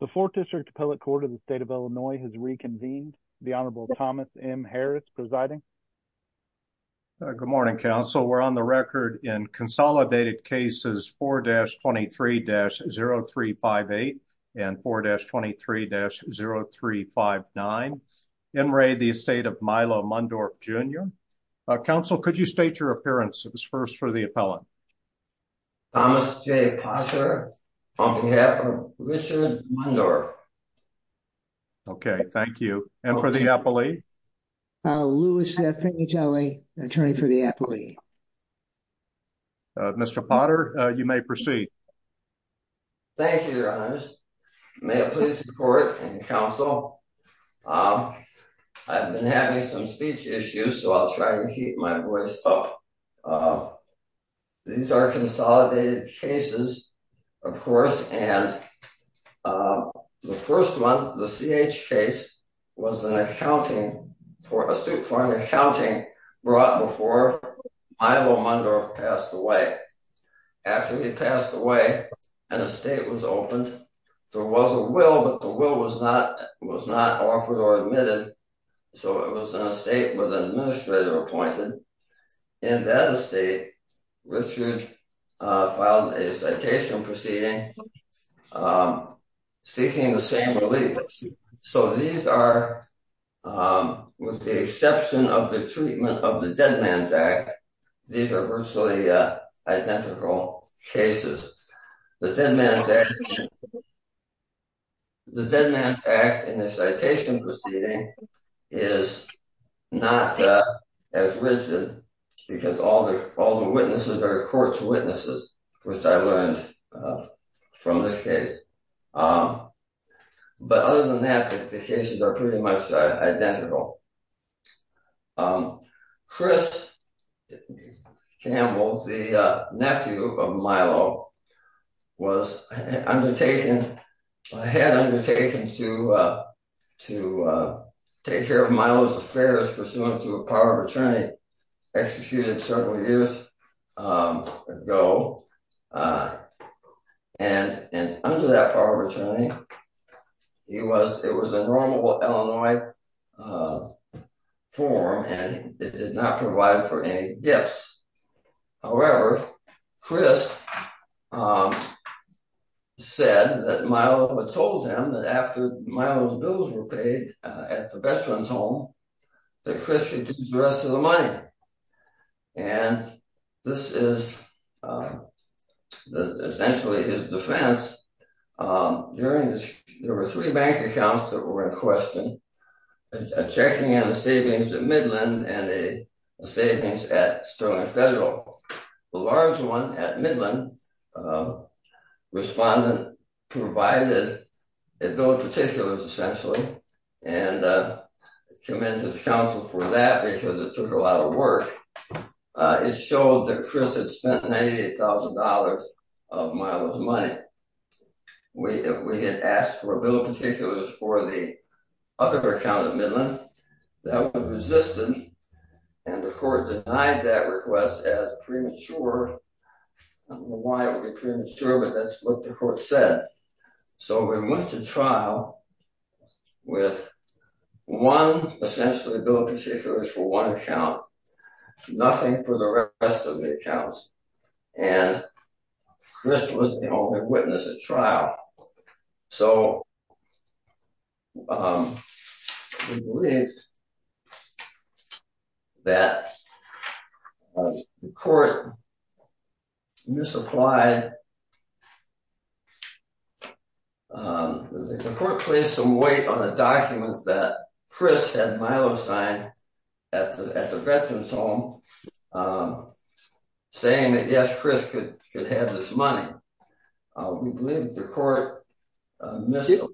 The 4th District Appellate Court of the State of Illinois has reconvened. The Honorable Thomas M. Harris presiding. Good morning, counsel. We're on the record in consolidated cases 4-23-0358 and 4-23-0359. N. Ray, the estate of Milo Mundorff, Jr. Counsel, could you state your appearances first for the appellant? Thomas J. Potter, on behalf of Richard Mundorff. Okay, thank you. And for the appellee? Louis F. Pignatelli, attorney for the appellee. Mr. Potter, you may proceed. Thank you, Your Honors. May I please report, counsel? I've been having some speech issues, so I'll try to keep my voice up. These are consolidated cases, of course, and the first one, the CH case, was an accounting, for a suit for an accounting brought before Milo Mundorff passed away. After he passed away, an estate was opened. There was a will, but the will was not offered or admitted, so it was an estate with an administrator appointed. In that estate, Richard filed a citation proceeding seeking the same relief. So these are, with the exception of the treatment of the Dead Man's Act, these are virtually identical cases. The Dead Man's Act in the citation proceeding is not as rigid because all the witnesses are court's witnesses, which I learned from this case. But other than that, the cases are pretty much identical. Chris Campbell, the nephew of Milo, was undertaken, had undertaken to take care of Milo's affairs pursuant to a power of attorney executed several years ago, and under that power of attorney, he was, it was a normal Illinois form, and it did not provide for any gifts. However, Chris said that Milo had told him that after Milo's bills were paid at the veteran's home, that Chris should use the rest of the money, and this is essentially his defense. During this, there were three bank accounts that were in question, checking in the savings at Midland and a savings at Sterling Federal. The large one at Midland, respondent provided a bill of particulars, essentially, and commended the council for that because it took a lot of work. It showed that Chris had spent $98,000 of Milo's money. We had asked for a bill of particulars for the other account at Midland. That was resistant, and the court denied that request as premature. I don't know why it would be premature, but that's what the court said. So we went to trial with one, essentially, bill of particulars for one account, nothing for the rest of the accounts, and Chris was the only witness at trial. So we believe that the court misapplied, and the court placed some weight on the documents that Chris had Milo signed at the veteran's home, saying that yes, Chris could have this money. We believe the court misapplied.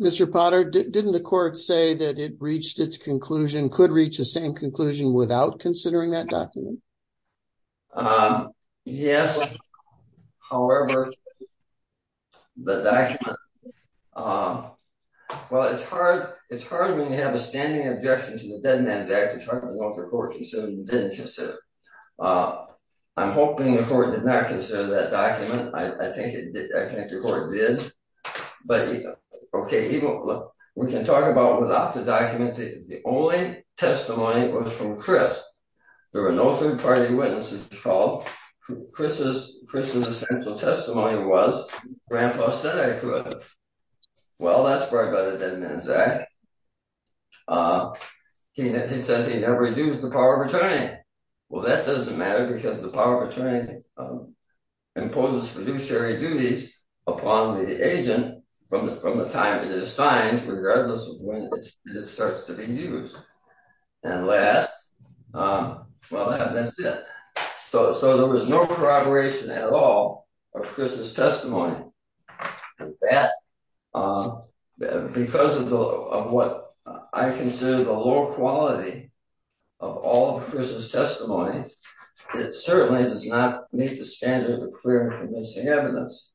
Mr. Potter, didn't the court say that it reached its conclusion, could reach the same conclusion, without considering that document? Yes, however, the document, well, it's hard when you have a standing objection to the Dead Man's Act, it's hard to know if the court considered it or didn't consider it. I'm hoping the court did not consider that document. I think the court did, but okay, we can talk about without the party witnesses. Chris's essential testimony was, Grandpa said I could. Well, that's far better than the Dead Man's Act. He says he never used the power of attorney. Well, that doesn't matter, because the power of attorney imposes fiduciary duties upon the agent from the time it is signed, regardless of when it starts to be used. And last, well, that's it. So there was no corroboration at all of Chris's testimony. Because of what I consider the low quality of all of Chris's testimony, it certainly does not meet the standard of clear and convincing evidence.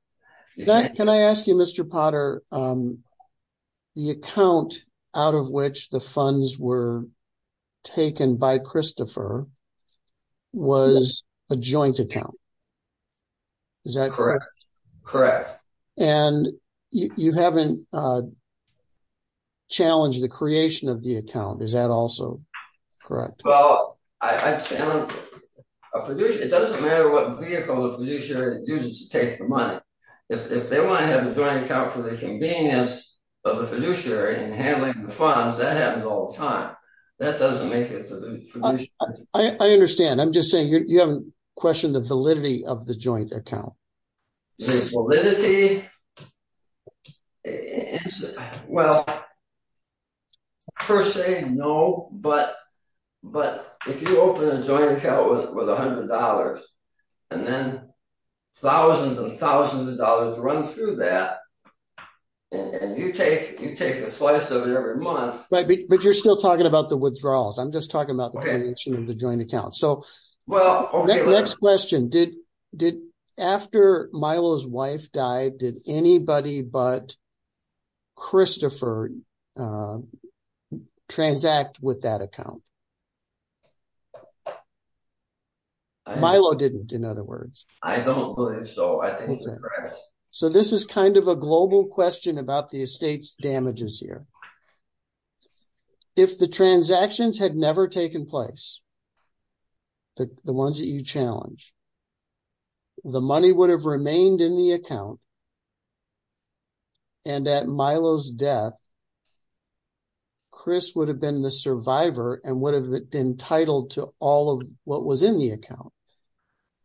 Can I ask you, Mr. Potter, the account out of which the funds were taken by Christopher was a joint account, is that correct? Correct. And you haven't challenged the creation of the account, is that also correct? Well, I challenge, a fiduciary, it doesn't matter what vehicle the fiduciary uses to take the money. If they want to have a joint account for the convenience of the fiduciary in handling the funds, that happens all the time. That doesn't make it to the fiduciary. I understand. I'm just saying you haven't questioned the validity of the joint account. The validity, well, per se, no. But if you open a joint account with $100, and then thousands and thousands of dollars run through that, and you take a slice of it every month. Right, but you're still talking about the withdrawals. I'm just talking about the creation of the joint account. So next question, did, after Milo's wife died, did anybody but Christopher transact with that account? Milo didn't, in other words. I don't believe so, I think it's correct. So this is kind of a global question about the estate's damages here. If the transactions had never taken place, the ones that you challenge, the money would have remained in the account. And at Milo's death, Chris would have been the survivor and would have been entitled to all of what was in the account.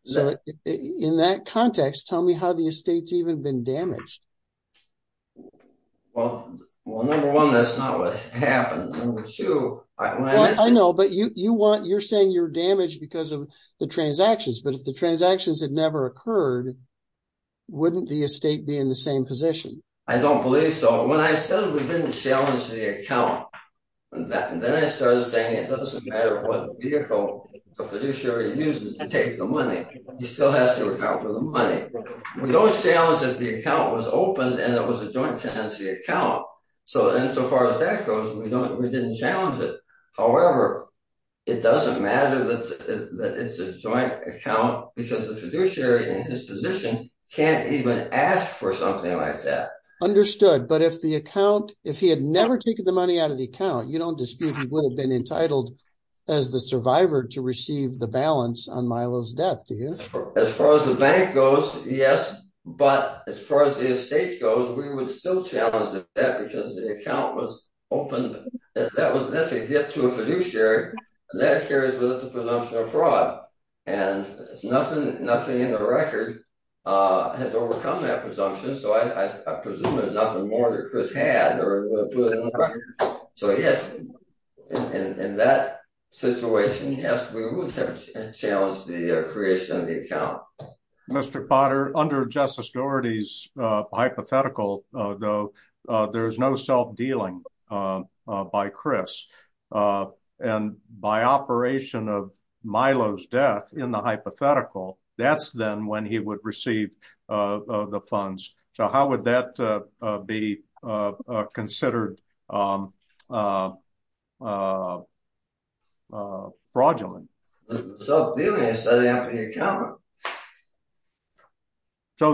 So in that context, tell me how the estate's even been damaged. Well, number one, that's not what happened. Number two, I know, but you want, you're saying you're damaged because of the transactions. But if the transactions had never occurred, wouldn't the estate be in the same position? I don't believe so. When I said we didn't challenge the account, and then I started saying it doesn't matter what vehicle the fiduciary uses to take the money, he still has to account for the money. We don't challenge that the account was opened and it was a joint tenancy account. So insofar as that goes, we didn't challenge it. However, it doesn't matter that it's a joint account because the fiduciary in his position can't even ask for something like that. Understood. But if the account, if he had never taken the money out of the account, you don't dispute he would have been entitled as the survivor to receive the balance on Milo's death, do you? As far as the bank goes, yes. But as far as the estate goes, we would still challenge that because the account was opened. That was a hit to a fiduciary. That carries with the presumption of fraud. And nothing in the record has overcome that presumption. So I presume there's nothing more that Chris had or put in the record. So yes, in that situation, we would have challenged the creation of the account. Mr. Potter, under Justice Dougherty's hypothetical, though, there is no self-dealing by Chris. And by operation of Milo's death in the hypothetical, that's then when he would receive the funds. So how would that be considered a fraudulent? So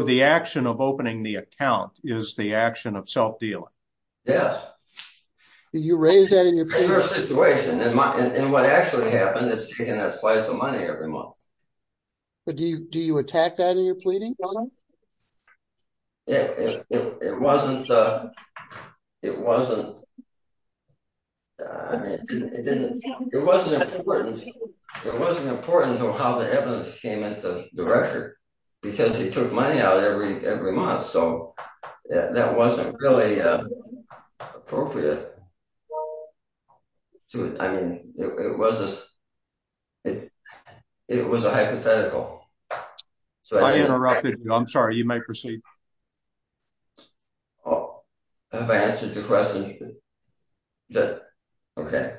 the action of opening the account is the action of self-dealing. Yes. You raise that in your situation. And what actually happened is taking a slice of money every month. Do you attack that in your pleading? It wasn't important how the evidence came into the record because he took money out every month. So that wasn't really appropriate. It was a hypothetical. I interrupted you. I'm sorry. You may proceed. Have I answered your question? Okay.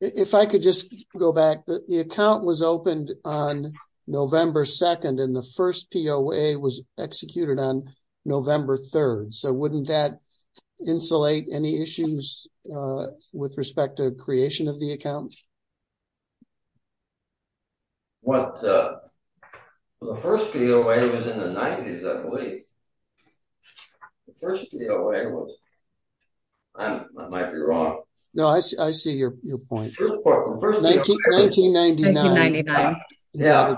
If I could just go back. The account was opened on November 2nd and the first POA was executed on November 2nd. The first POA was in the 90s, I believe. I might be wrong. No, I see your point. 1999. Yeah.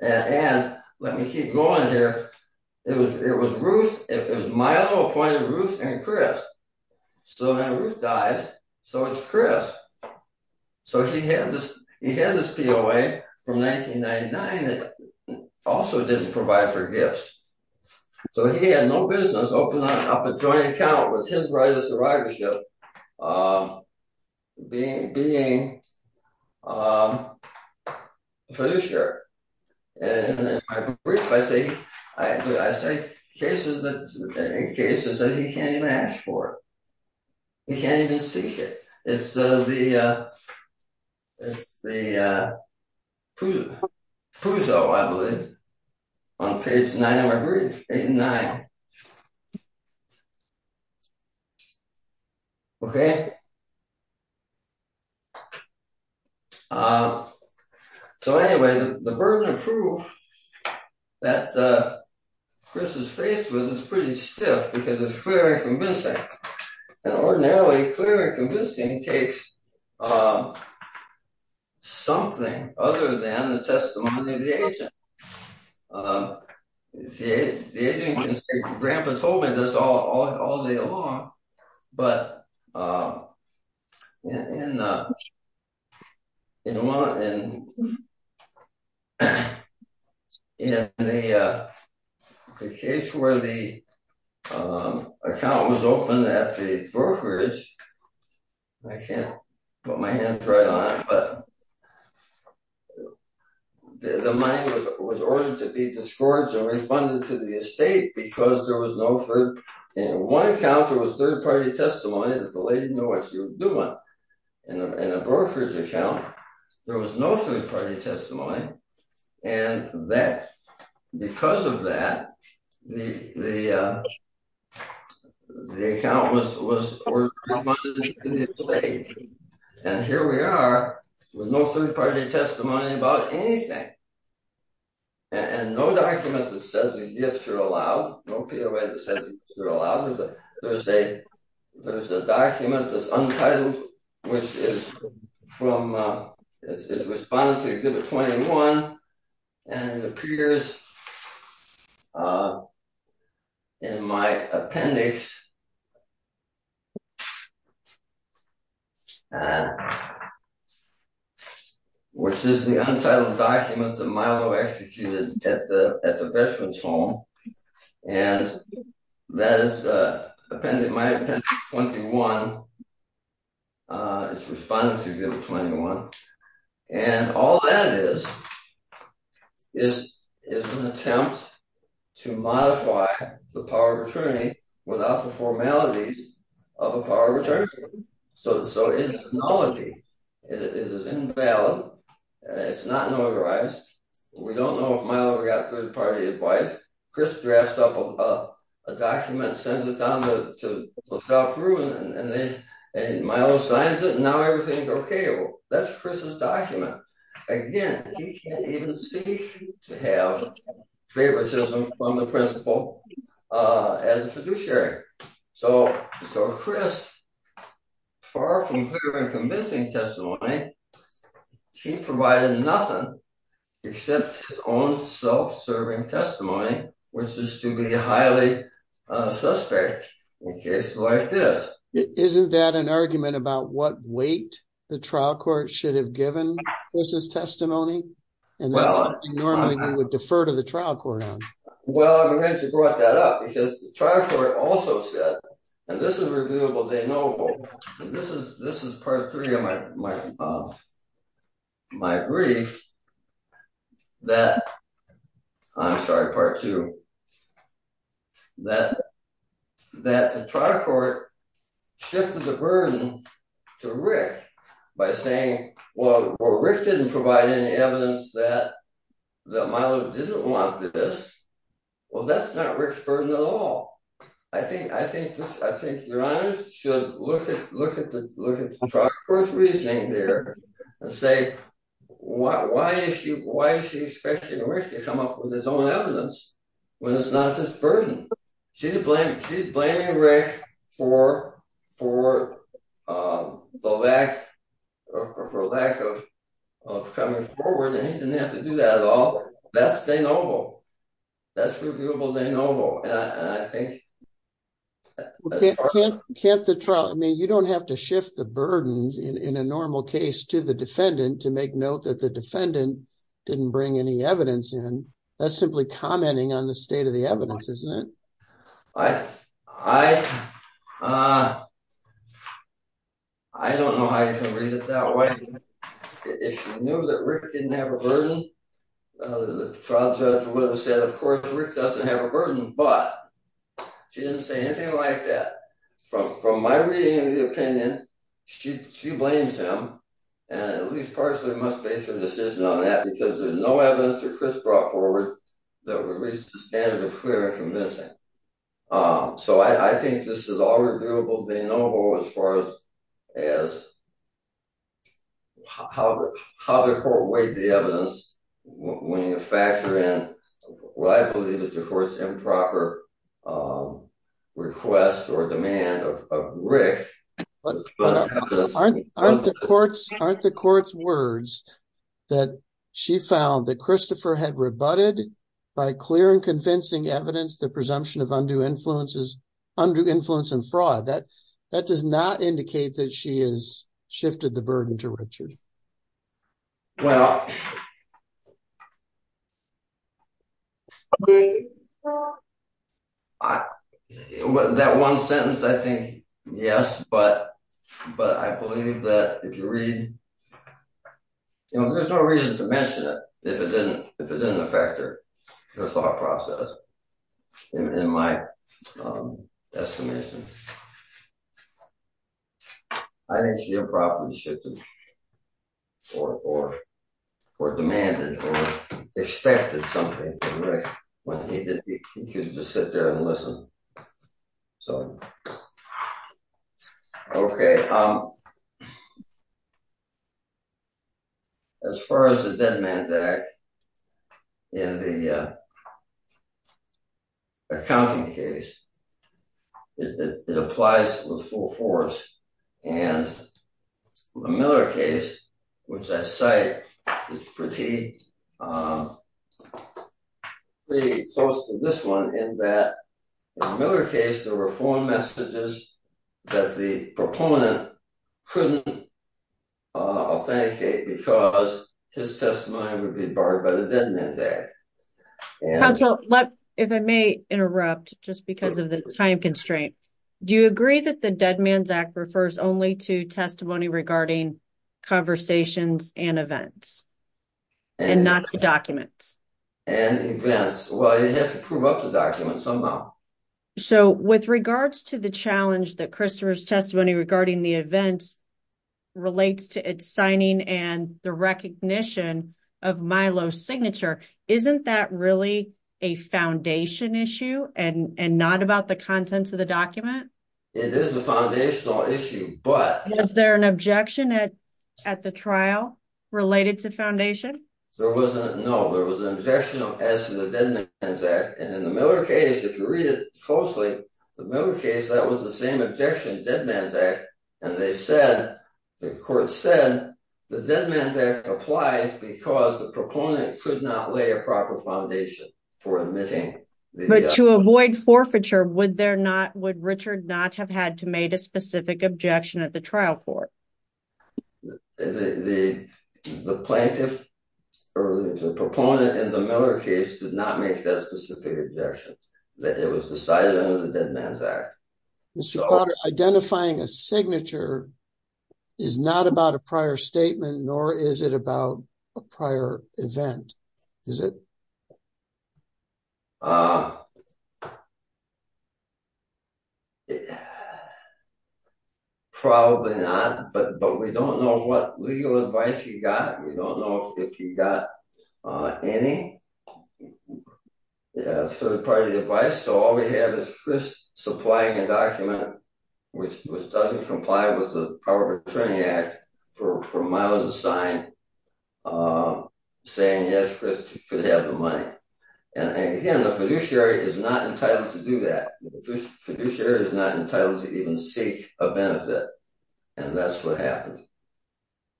And let me keep going here. It was Milo who appointed Ruth and Chris. So Ruth dies. So it's Chris. So he had this POA from 1999 that also didn't provide for gifts. So he had no business opening up a joint account with his right of survivorship being a fiduciary. And in my brief, I say cases that he can't even ask for. He can't even seek it. It's the Puzo, I believe, on page nine of my brief. 1989. Okay. So anyway, the burden of proof that Chris is faced with is pretty stiff because it's clear and convincing. And ordinarily clear and convincing takes something other than the agency. Grandpa told me this all day long. But in the case where the account was opened at the brokerage, I can't put my hands right on it, but the money was ordered to be discouraged and refunded to the estate because there was no third. In one account, there was third-party testimony that the lady didn't know what she was doing. In a brokerage account, there was no third-party testimony. And because of that, the account was refunded to the estate. And here we are with no third-party testimony about anything. And no document that says the gifts are allowed, no POA that says they're allowed. There's a document that's untitled, which is from his response to Exhibit 21, and it appears in my appendix, which is the untitled document that Milo executed at the veteran's home. And that is my appendix 21, his response to Exhibit 21. And all that is is an attempt to modify the power of attorney without the formalities of a power of attorney. So it's nullity. It is invalid. It's not notarized. We don't know if Milo got third-party advice. Chris drafts up a document, sends it down to LaSalle Pruitt, and Milo signs it, and now everything's okay. That's Chris's document. Again, he can't even seem to have favoritism from the principal as a fiduciary. So Chris, far from clear and convincing testimony, he provided nothing except his own self-serving testimony, which is to be highly suspect in cases like this. Isn't that an argument about what weight the trial court should have given Chris's testimony? And that's something normally we would defer to the trial court on. Well, I'm glad you brought that up because the trial court also said, and this is reviewable, and this is part three of my brief, that the trial court shifted the burden to Rick by saying, well, Rick didn't provide any evidence that Milo didn't want this. Well, that's not Rick's burden at all. I think your honors should look at the trial court's reasoning there and say, why is she expecting Rick to come up with his own evidence when it's not his burden? She's blaming Rick for the lack of coming forward, and he didn't have to do that at all. That's de novo. That's reviewable de novo. And I think... Can't the trial... I mean, you don't have to shift the burden in a normal case to the defendant to make note that the defendant didn't bring any evidence in. That's simply commenting on the state of the evidence, isn't it? I don't know how you can read it that way. If she knew that Rick didn't have a burden, the trial judge would have said, of course, Rick doesn't have a burden, but she didn't say anything like that. From my reading of the opinion, she blames him, and at least partially must base her decision on that because there's no evidence that Chris brought forward that would reach the standard of clear and convincing. So, I think this is all reviewable de novo as far as how the court weighed the evidence. When you factor in what I believe is the court's improper request or demand of Rick... Aren't the court's words that she found that Christopher had rebutted by clear and convincing evidence the presumption of undue influence and fraud? That does not indicate that she has shifted the burden to Richard. Well... That one sentence, I think, yes, but I believe that if you read... There's no reason to mention it if it didn't affect her thought process. In my estimation, I think she improperly shifted or demanded or expected something from Rick when he didn't. He couldn't just sit there and listen. So, okay. As far as the Dead Man's Act in the accounting case, it applies with full force. And the Miller case, which I cite, is pretty close to this one in that in the Miller case, there were four messages that the proponent couldn't authenticate because his testimony would be barred by the Dead Man's Act. Counsel, if I may interrupt just because of the time constraint, do you agree that the Dead Man's Act refers only to testimony regarding conversations and events and not to documents? And events. Well, you have to prove up the document somehow. So, with regards to the challenge that Christopher's testimony regarding the events relates to its signing and the recognition of Milo's signature, isn't that really a foundation issue and not about the contents of the document? It is a foundational issue, but... Related to foundation? No, there was an objection as to the Dead Man's Act. And in the Miller case, if you read it closely, the Miller case, that was the same objection, Dead Man's Act. And they said, the court said, the Dead Man's Act applies because the proponent could not lay a proper foundation for admitting. But to avoid forfeiture, would Richard not have had to made a specific objection at the trial court? The plaintiff or the proponent in the Miller case did not make that specific objection, that it was decided under the Dead Man's Act. Mr. Potter, identifying a signature is not about a prior statement, nor is it about a prior event, is it? Probably not, but we don't know what legal advice he got. We don't know if he got any third-party advice. So, all we have is Chris supplying a document which doesn't comply with the Power of Attorney Act for Milo's sign, saying, yes, Chris could have the money. And again, the fiduciary is not entitled to do that. The fiduciary is not entitled to even seek a benefit. And that's what happened.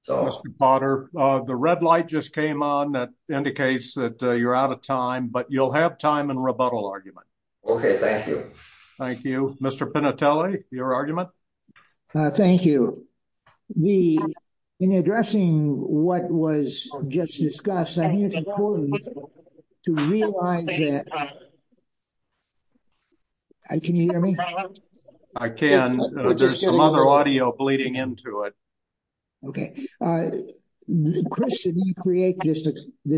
Mr. Potter, the red light just came on, that indicates that you're out of time, but you'll have time in rebuttal argument. Okay, thank you. Thank you. Mr. Pinatelli, your argument? Thank you. In addressing what was just discussed, I think it's important to realize that... There's some other audio bleeding into it. Okay. Chris didn't create this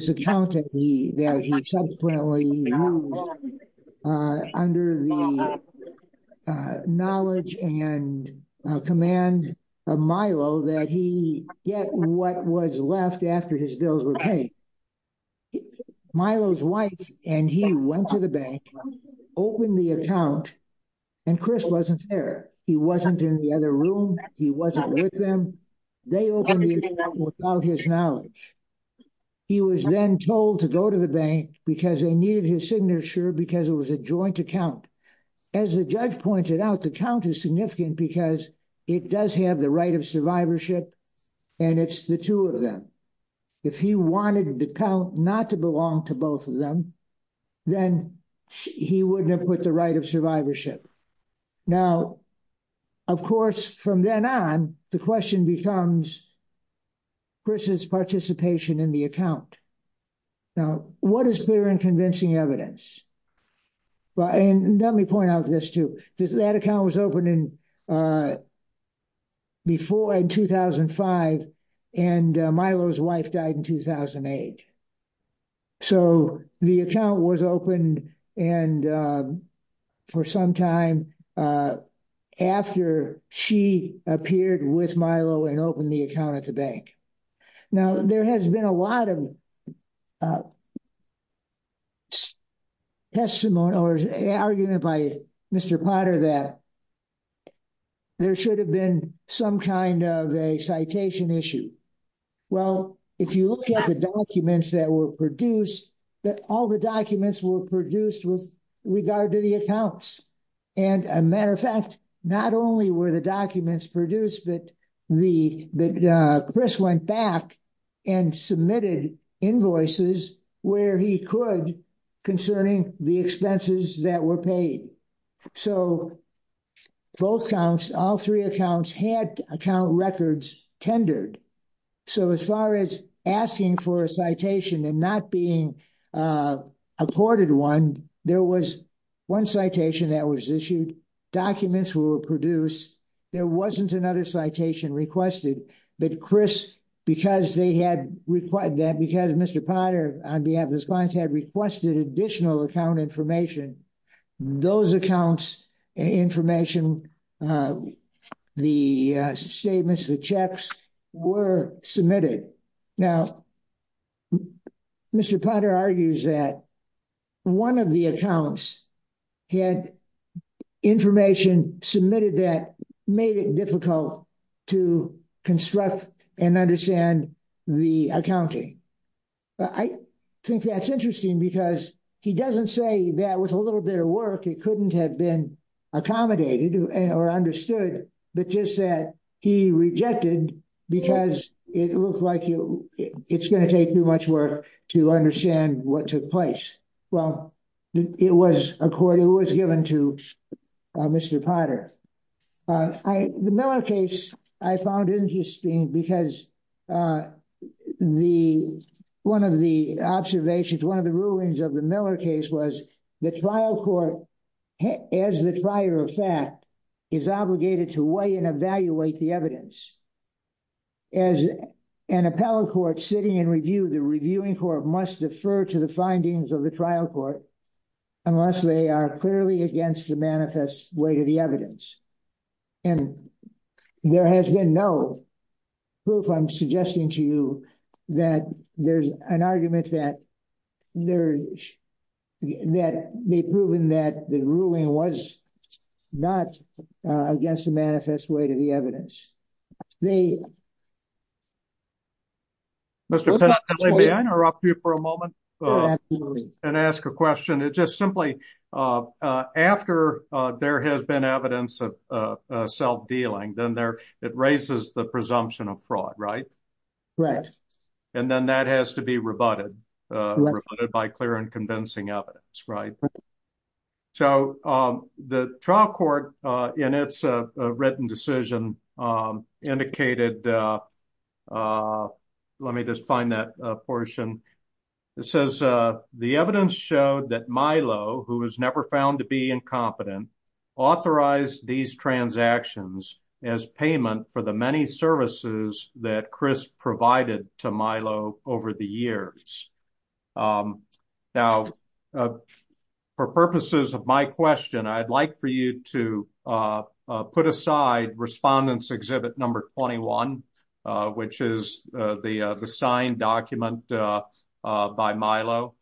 account that he subsequently used under the knowledge and command of Milo that he get what was left after his bills were paid. Milo's wife and he went to the bank, opened the account, and Chris wasn't there. He wasn't in the other room. He wasn't with them. They opened the account without his knowledge. He was then told to go to the bank because they needed his signature because it was a joint account. As the judge pointed out, the count is significant because it does have the right of survivorship, and it's the two of them. If he wanted the count not to belong to both of them, then he wouldn't have put the right of survivorship. Now, of course, from then on, the question becomes Chris's participation in the account. Now, what is clear and convincing evidence? Let me point out this too. That account was opened in 2005, and Milo's wife died in 2008. So, the account was opened for some time after she appeared with Milo and opened the account at the bank. Now, there has been a lot of testimony or argument by Mr. Potter that there should have been some kind of a citation issue. Well, if you look at the documents that were produced, all the documents were produced with regard to the accounts. As a matter of fact, not only were the documents produced, but Chris went back and submitted invoices where he could concerning the expenses that were paid. So, both counts, all three accounts had account records tendered. So, as far as asking for a citation and not being accorded one, there was one citation that was issued. Documents were produced. There wasn't another citation requested, but Chris, because Mr. Potter, on behalf of his clients, had requested additional account information, those accounts' information, the statements, the checks were submitted. Now, Mr. Potter argues that one of the accounts had information submitted that made it difficult to construct and understand the accounting. I think that's interesting because he doesn't say that with a little bit of work, it couldn't have been accommodated or understood, but just that he rejected because it looked like it's going to take too much work to understand what took place. Well, it was accorded, it was given to Mr. Potter. The Miller case, I found interesting because one of the observations, one of the rulings of the Miller case was the trial court, as the trier of fact, is obligated to weigh and evaluate the evidence. As an appellate court sitting in review, the reviewing court must defer to the findings of the trial court unless they are clearly against the manifest weight of the evidence. There has been no proof, I'm suggesting to you, that there's an argument that they've proven that the ruling was not against the manifest weight of the evidence. The- Mr. Penney, may I interrupt you for a moment and ask a question? It's just simply, after there has been evidence of self-dealing, then it raises the presumption of fraud, right? Right. And then that has to be rebutted by clear and convincing evidence, right? So the trial court, in its written decision, indicated, let me just find that portion. It says, the evidence showed that Milo, who was never found to be incompetent, authorized these transactions as payment for the many services that Chris provided to Milo over the years. Now, for purposes of my question, I'd like for you to put aside Respondents' Exhibit Number 21, which is the signed document by Milo.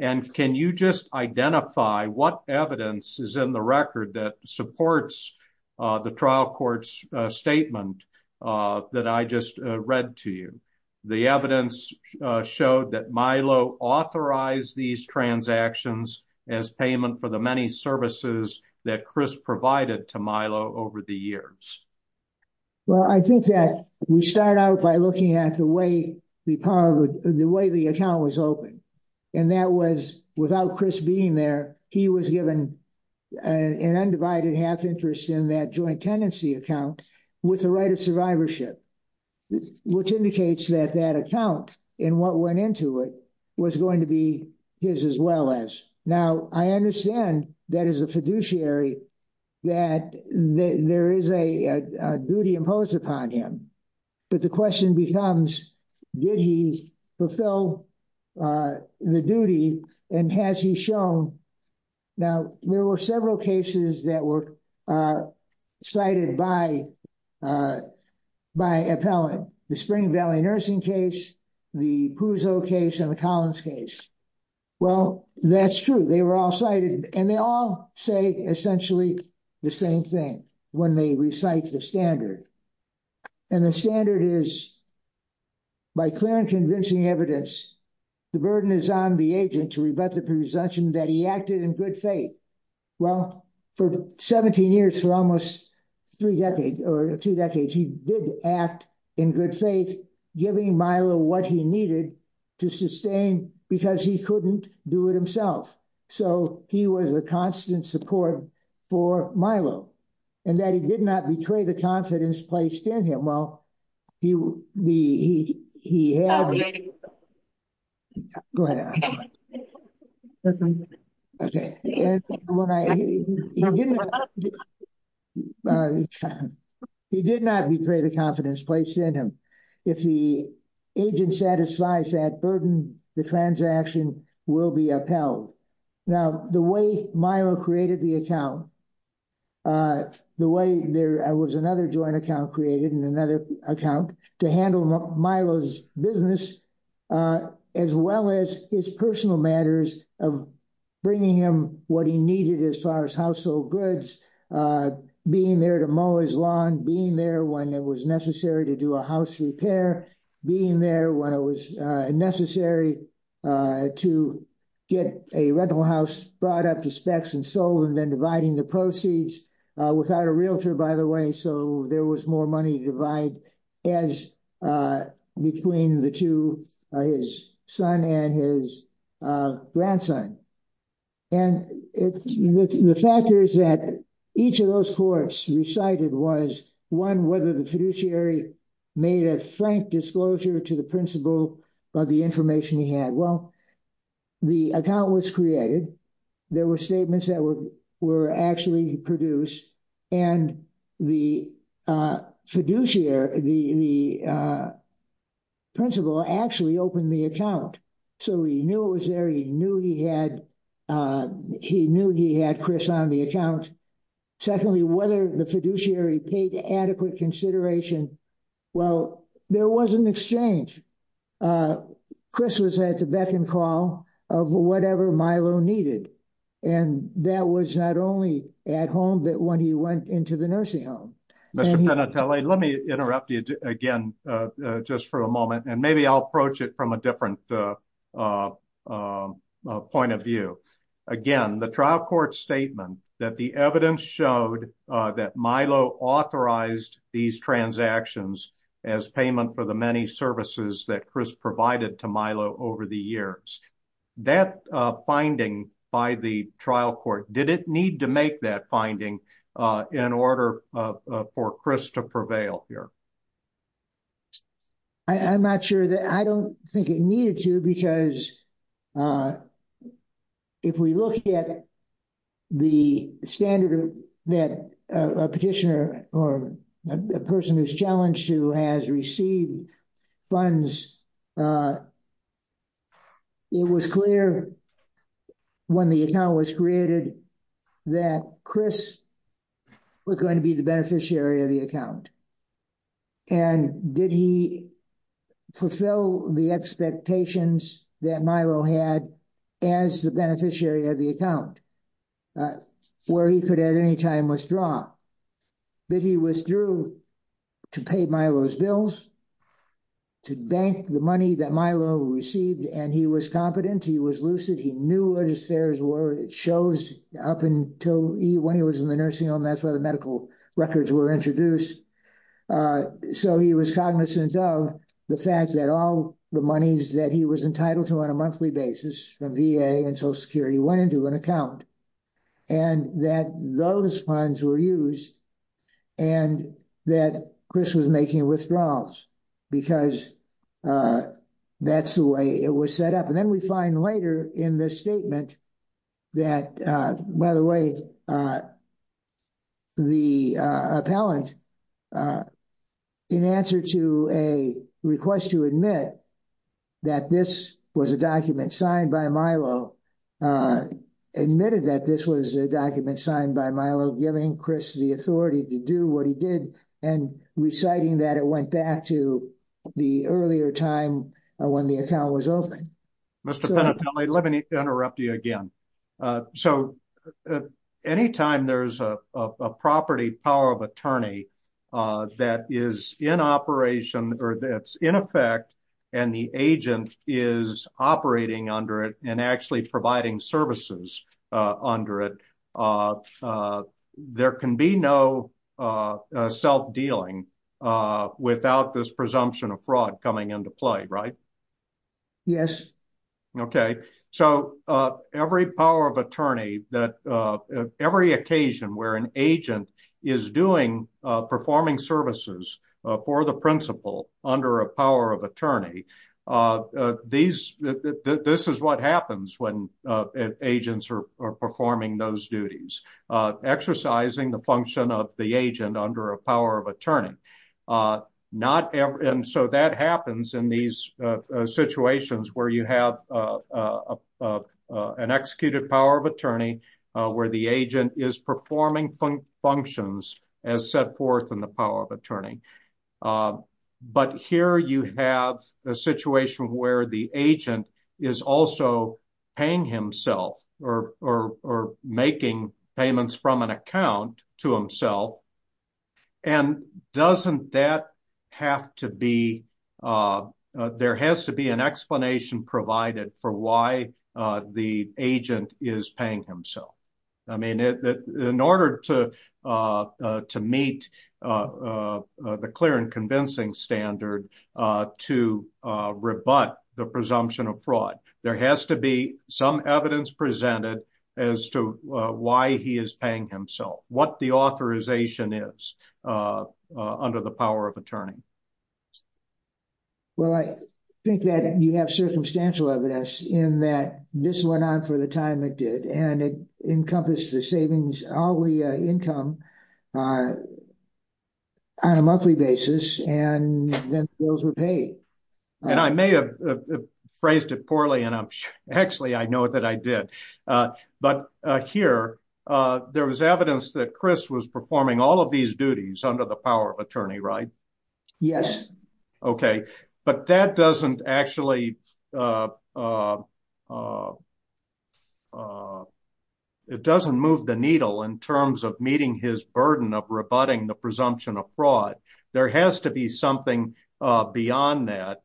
And can you just identify what evidence is in the signed document? Well, I think that we start out by looking at the way the account was opened. And that was, without Chris being there, he was given an undivided half interest in that joint and what went into it was going to be his as well as. Now, I understand that as a fiduciary, that there is a duty imposed upon him. But the question becomes, did he fulfill the duty? And has he shown? Now, there were several cases that were cited by Appellant. The Spring Valley Nursing case, the Puzo case and the Collins case. Well, that's true. They were all cited. And they all say essentially the same thing when they recite the standard. And the standard is, by clear and convincing evidence, the burden is on the agent to rebut the presumption that he acted in good faith. Well, for 17 years, for almost three decades or two decades, he did act in good faith, giving Milo what he needed to sustain because he couldn't do it himself. So, he was a constant support for Milo. And that he did not betray the confidence placed in him. Well, he did not betray the confidence placed in him. If the agent satisfies that burden, the transaction will be upheld. Now, the way Milo created the account, the way there was another joint account created and another account to handle Milo's business, as well as his personal matters of bringing him what he needed as far as household goods, being there to mow his lawn, being there when it was necessary to do a house repair, being there when it was necessary to get a rental house brought up to specs and sold, then dividing the proceeds, without a realtor, by the way, so there was more money to divide between the two, his son and his grandson. And the factors that each of those courts recited was, one, whether the fiduciary made a frank disclosure to the principal of the information he had. Well, the account was created. There were statements that were actually produced. And the fiduciary, the principal actually opened the account. So, he knew it was there. He knew he had Chris on the account. Secondly, whether the fiduciary paid adequate consideration. Well, there was an open call of whatever Milo needed. And that was not only at home, but when he went into the nursing home. Mr. Penatelli, let me interrupt you again, just for a moment, and maybe I'll approach it from a different point of view. Again, the trial court statement that the evidence showed that Milo authorized these transactions as payment for the many services that Chris provided to Milo over the years, that finding by the trial court, did it need to make that finding in order for Chris to prevail here? I'm not sure that, I don't think it needed to, because if we look at the standard that a petitioner or a person who's challenged to has received funds, it was clear when the account was created that Chris was going to be the beneficiary of the account. And did he fulfill the expectations that Milo had as the beneficiary of the account? Where he could at any time withdraw. But he withdrew to pay Milo's bills, to bank the money that Milo received, and he was competent, he was lucid, he knew what his fares were. It shows up until he, when he was in the nursing home, that's where the medical records were introduced. So he was cognizant of the fact that all the monies that he was entitled to on a and that those funds were used, and that Chris was making withdrawals, because that's the way it was set up. And then we find later in this statement that, by the way, the appellant, in answer to a request to admit that this was a document signed by Milo, admitted that this was a document signed by Milo, giving Chris the authority to do what he did, and reciting that it went back to the earlier time when the account was opened. Mr. Penatelli, let me interrupt you again. So anytime there's a property power of attorney that is in operation, or that's in effect, and the agent is operating under it, and actually providing services under it, there can be no self-dealing without this presumption of fraud coming into play, right? Yes. Okay. So every power of attorney, every occasion where an agent is doing, performing services for the principal under a power of attorney, this is what happens when agents are performing those duties, exercising the function of the agent under a power of attorney. This is what happens in these situations where you have an executed power of attorney, where the agent is performing functions as set forth in the power of attorney. But here you have a situation where the agent is also paying himself, or making payments from an account. There has to be an explanation provided for why the agent is paying himself. I mean, in order to meet the clear and convincing standard to rebut the presumption of fraud, there has to be some evidence presented as to why he is paying himself, what the authorization is under the power of attorney. Well, I think that you have circumstantial evidence in that this went on for the time it did, and it encompassed the savings, hourly income on a monthly basis, and then bills were paid. And I may have phrased it poorly, and I'm, actually, I know that I did. But here, there was evidence that Chris was performing all of these duties under the power of attorney, right? Yes. Okay. But that doesn't actually, it doesn't move the needle in terms of meeting his burden of rebutting the presumption of fraud. There has to be something beyond that.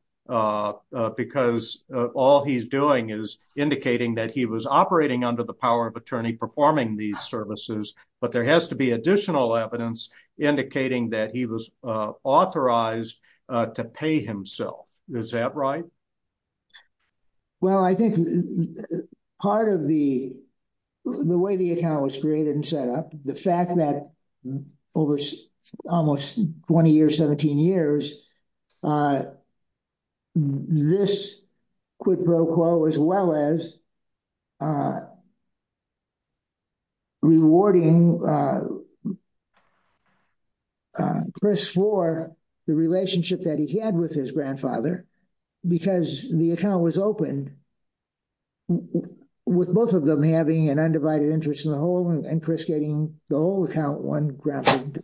Because all he's doing is indicating that he was operating under the power of attorney performing these services. But there has to be additional evidence indicating that he was authorized to pay himself. Is that right? Well, I think part of the way the account was created and set up, the fact that over the years, there was a lot of rewarding Chris for the relationship that he had with his grandfather, because the account was opened with both of them having an undivided interest in the whole and Chris getting the whole account one graphic.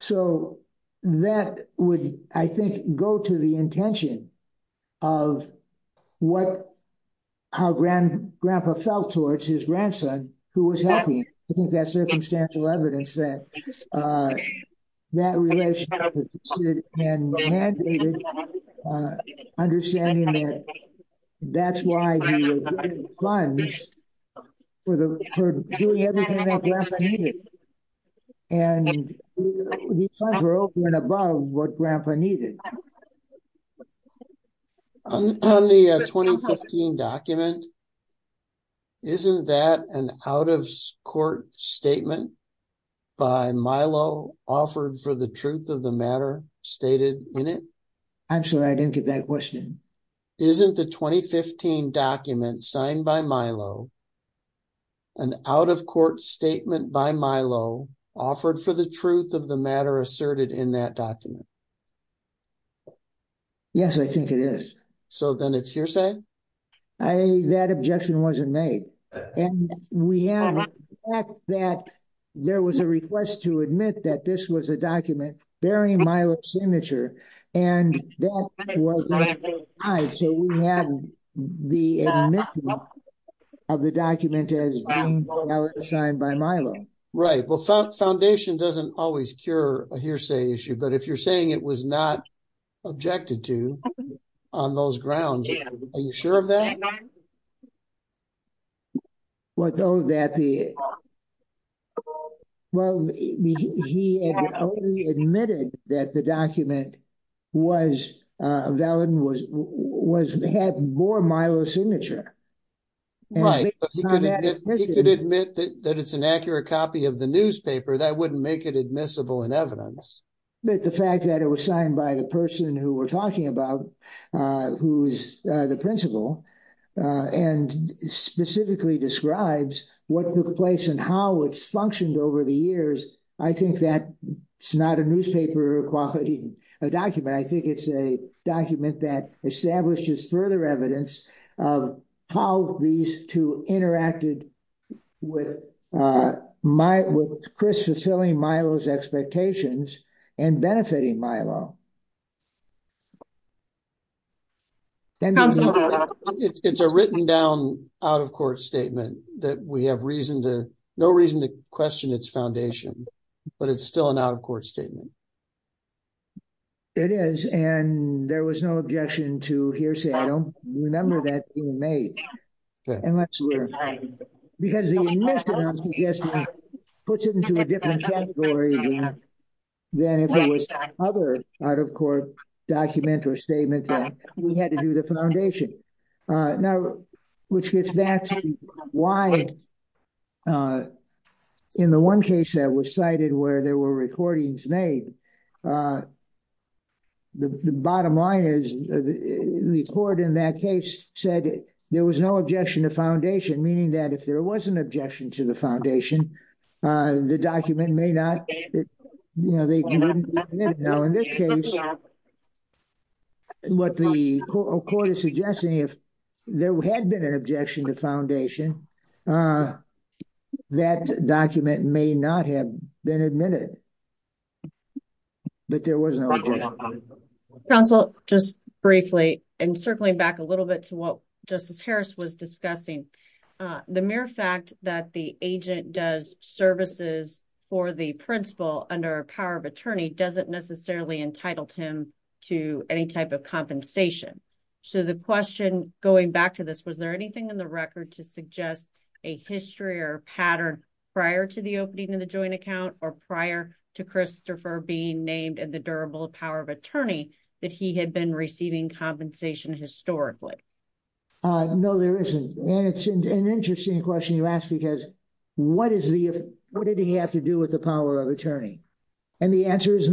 So that would, I think, go to the intention of how grandpa felt towards his grandson, who was happy. I think that's circumstantial evidence that that relationship had been mandated, understanding that that's why he was getting funds for doing everything that grandpa needed. And the funds were over and above what grandpa needed. On the 2015 document, isn't that an out of court statement by Milo, offered for the truth of the matter stated in it? I'm sorry, I didn't get that question. Isn't the 2015 document signed by Milo, an out of court statement by Milo, offered for the truth of the matter asserted in that document? Yes, I think it is. So then it's hearsay? I think that objection wasn't made. And we have the fact that there was a request to admit that this was a document bearing Milo's signature. And that was not denied. So we have the admission of the document as being signed by Milo. Right. Well, foundation doesn't always cure a hearsay issue. But if you're saying it was not objected to on those grounds, are you sure of that? Well, he admitted that the document was valid and had more Milo's signature. Right. He could admit that it's an accurate copy of the newspaper, that wouldn't make it admissible in evidence. But the fact that it was signed by the person who we're talking about, who's the principal, and specifically describes what took place and how it's functioned over the years, I think that it's not a newspaper document. I think it's a document that establishes further evidence of how these two interacted with Chris fulfilling Milo's expectations and benefiting Milo. It's a written down out of court statement that we have no reason to question its foundation. But it's still an out of court statement. It is. And there was no objection to hearsay. I don't remember that being made. Unless we're... Because the admission I'm suggesting puts it into a different category than if it was other out of court document or statement that we had to do the foundation. Now, which gets back to why in the one case that was cited where there were recordings made, the bottom line is the court in that case said there was no objection to foundation, meaning that if there was an objection to the foundation, the document may not... Now, in this case, what the court is suggesting, if there had been an objection to foundation, that document may not have been admitted. But there was no objection. Counsel, just briefly and circling back a little bit to what Justice Harris was discussing, the mere fact that the agent does services for the principal under power of attorney doesn't necessarily entitled him to any type of compensation. So the question going back to this, was there anything in the record to suggest a history or pattern prior to the opening of the joint account or prior to Christopher being named at the durable power of attorney that he had been receiving compensation historically? No, there isn't. And it's an interesting question you ask because what did he have to do with the power of attorney? And the answer is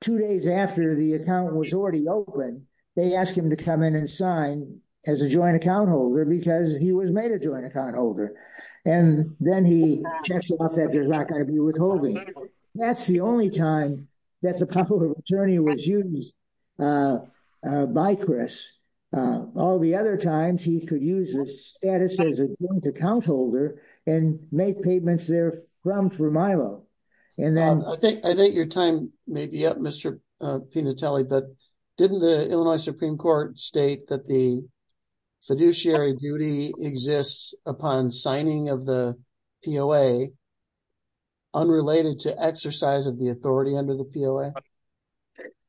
two days after the account was already open, they asked him to come in and sign as a joint account holder because he was made a joint account holder. And then he checked off that there's not going to be withholding. That's the only time that the power of attorney was used by Chris. All the other times he could use his status as a joint account holder and make payments there from Formilo. I think your time may be up, Mr. Pinatelli, but didn't the Illinois Supreme Court state that the fiduciary duty exists upon signing of the POA unrelated to exercise of the authority under the POA?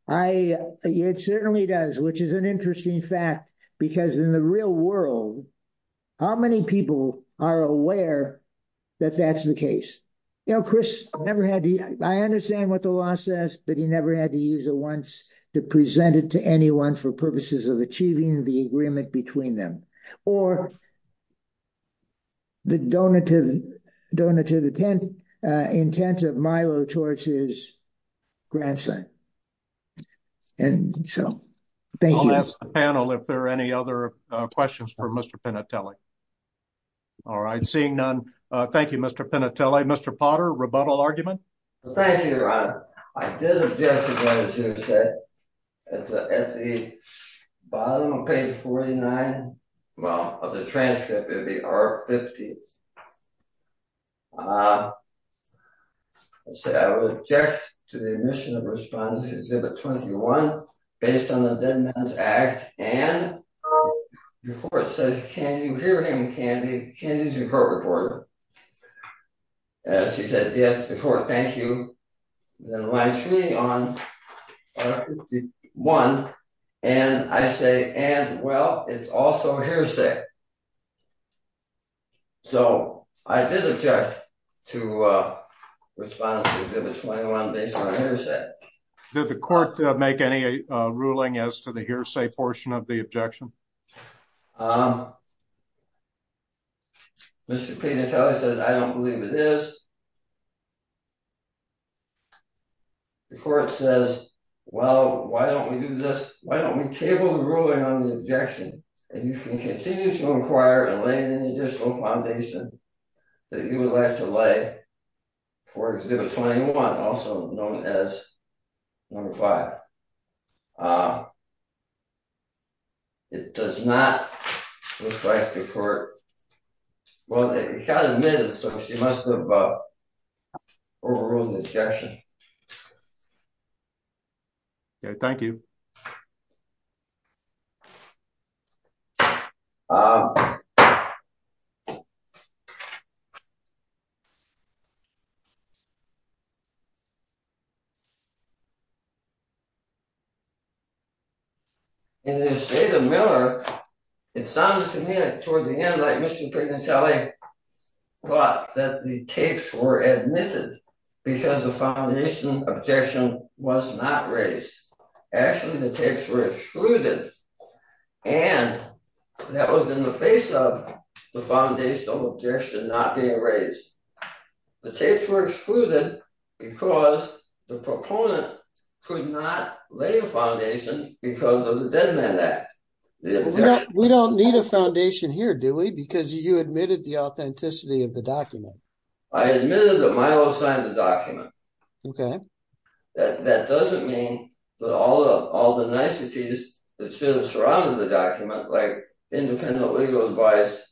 It certainly does, which is an interesting fact because in the real world, how many people are aware that that's the case? I understand what the law says, but he never had to use it once to present it to anyone for purposes of achieving the agreement between them or the donated intent of Milo towards his grandson. I'll ask the panel if there are any other questions for Mr. Pinatelli. All right, seeing none, thank you, Mr. Pinatelli. Mr. Potter, rebuttal argument? Thank you, Your Honor. I did object to what was just said. At the bottom of page 49, of the transcript, it would be R-50. I said I would object to the omission of Respondents Exhibit 21 based on the Dead Man's Act and the court said, can you hear him, Candy? Candy's your court reporter. She said, yes, the court, thank you. Then it reminds me on R-51 and I say, and well, it's also hearsay. So I did object to Respondents Exhibit 21 based on hearsay. Did the court make any ruling as to the hearsay portion of the objection? Mr. Pinatelli says, I don't believe it is. The court says, well, why don't we do this? Why don't we table the ruling on the objection and you can continue to inquire and lay an additional foundation that you would like to lay for Exhibit 21, also known as No. 5. But it does not reflect the court. Well, it kind of did, so she must have overruled the objection. Okay, thank you. In the state of Miller, it sounds to me toward the end like Mr. Pinatelli thought that the tapes were admitted because the foundation objection was not raised. Actually, the tapes were excluded and that was in the face of the foundational objection not raised. The tapes were excluded because the proponent could not lay a foundation because of the Dead Man Act. We don't need a foundation here, do we? Because you admitted the authenticity of the document. I admitted that Milo signed the document. That doesn't mean that all the niceties that should have surrounded the document, like independent legal advice,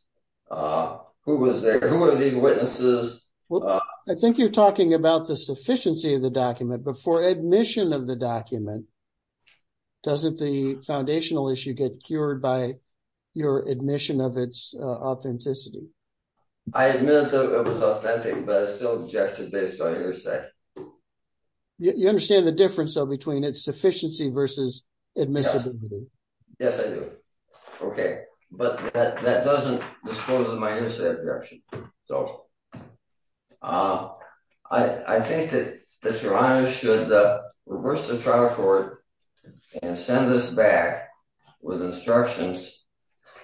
who was there, who were the witnesses. Well, I think you're talking about the sufficiency of the document, but for admission of the document, doesn't the foundational issue get cured by your admission of its authenticity? I admit it was authentic, but I still objected based on your objection. You understand the difference between its sufficiency versus admissibility? Yes, I do. Okay, but that doesn't disclose my initial objection. I think that your honor should reverse the trial court and send this back with instructions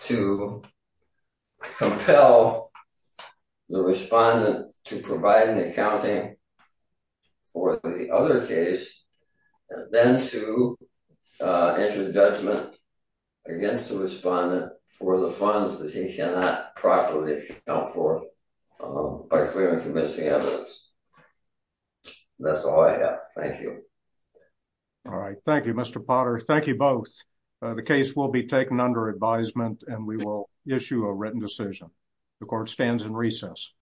to compel the respondent to provide an accounting for the other case and then to enter the judgment against the respondent for the funds that he cannot properly account for by clearing convincing evidence. That's all I have. Thank you. All right. Thank you, Mr. Potter. Thank you both. The case will be taken under advisement and we will issue a written decision. The court stands in recess.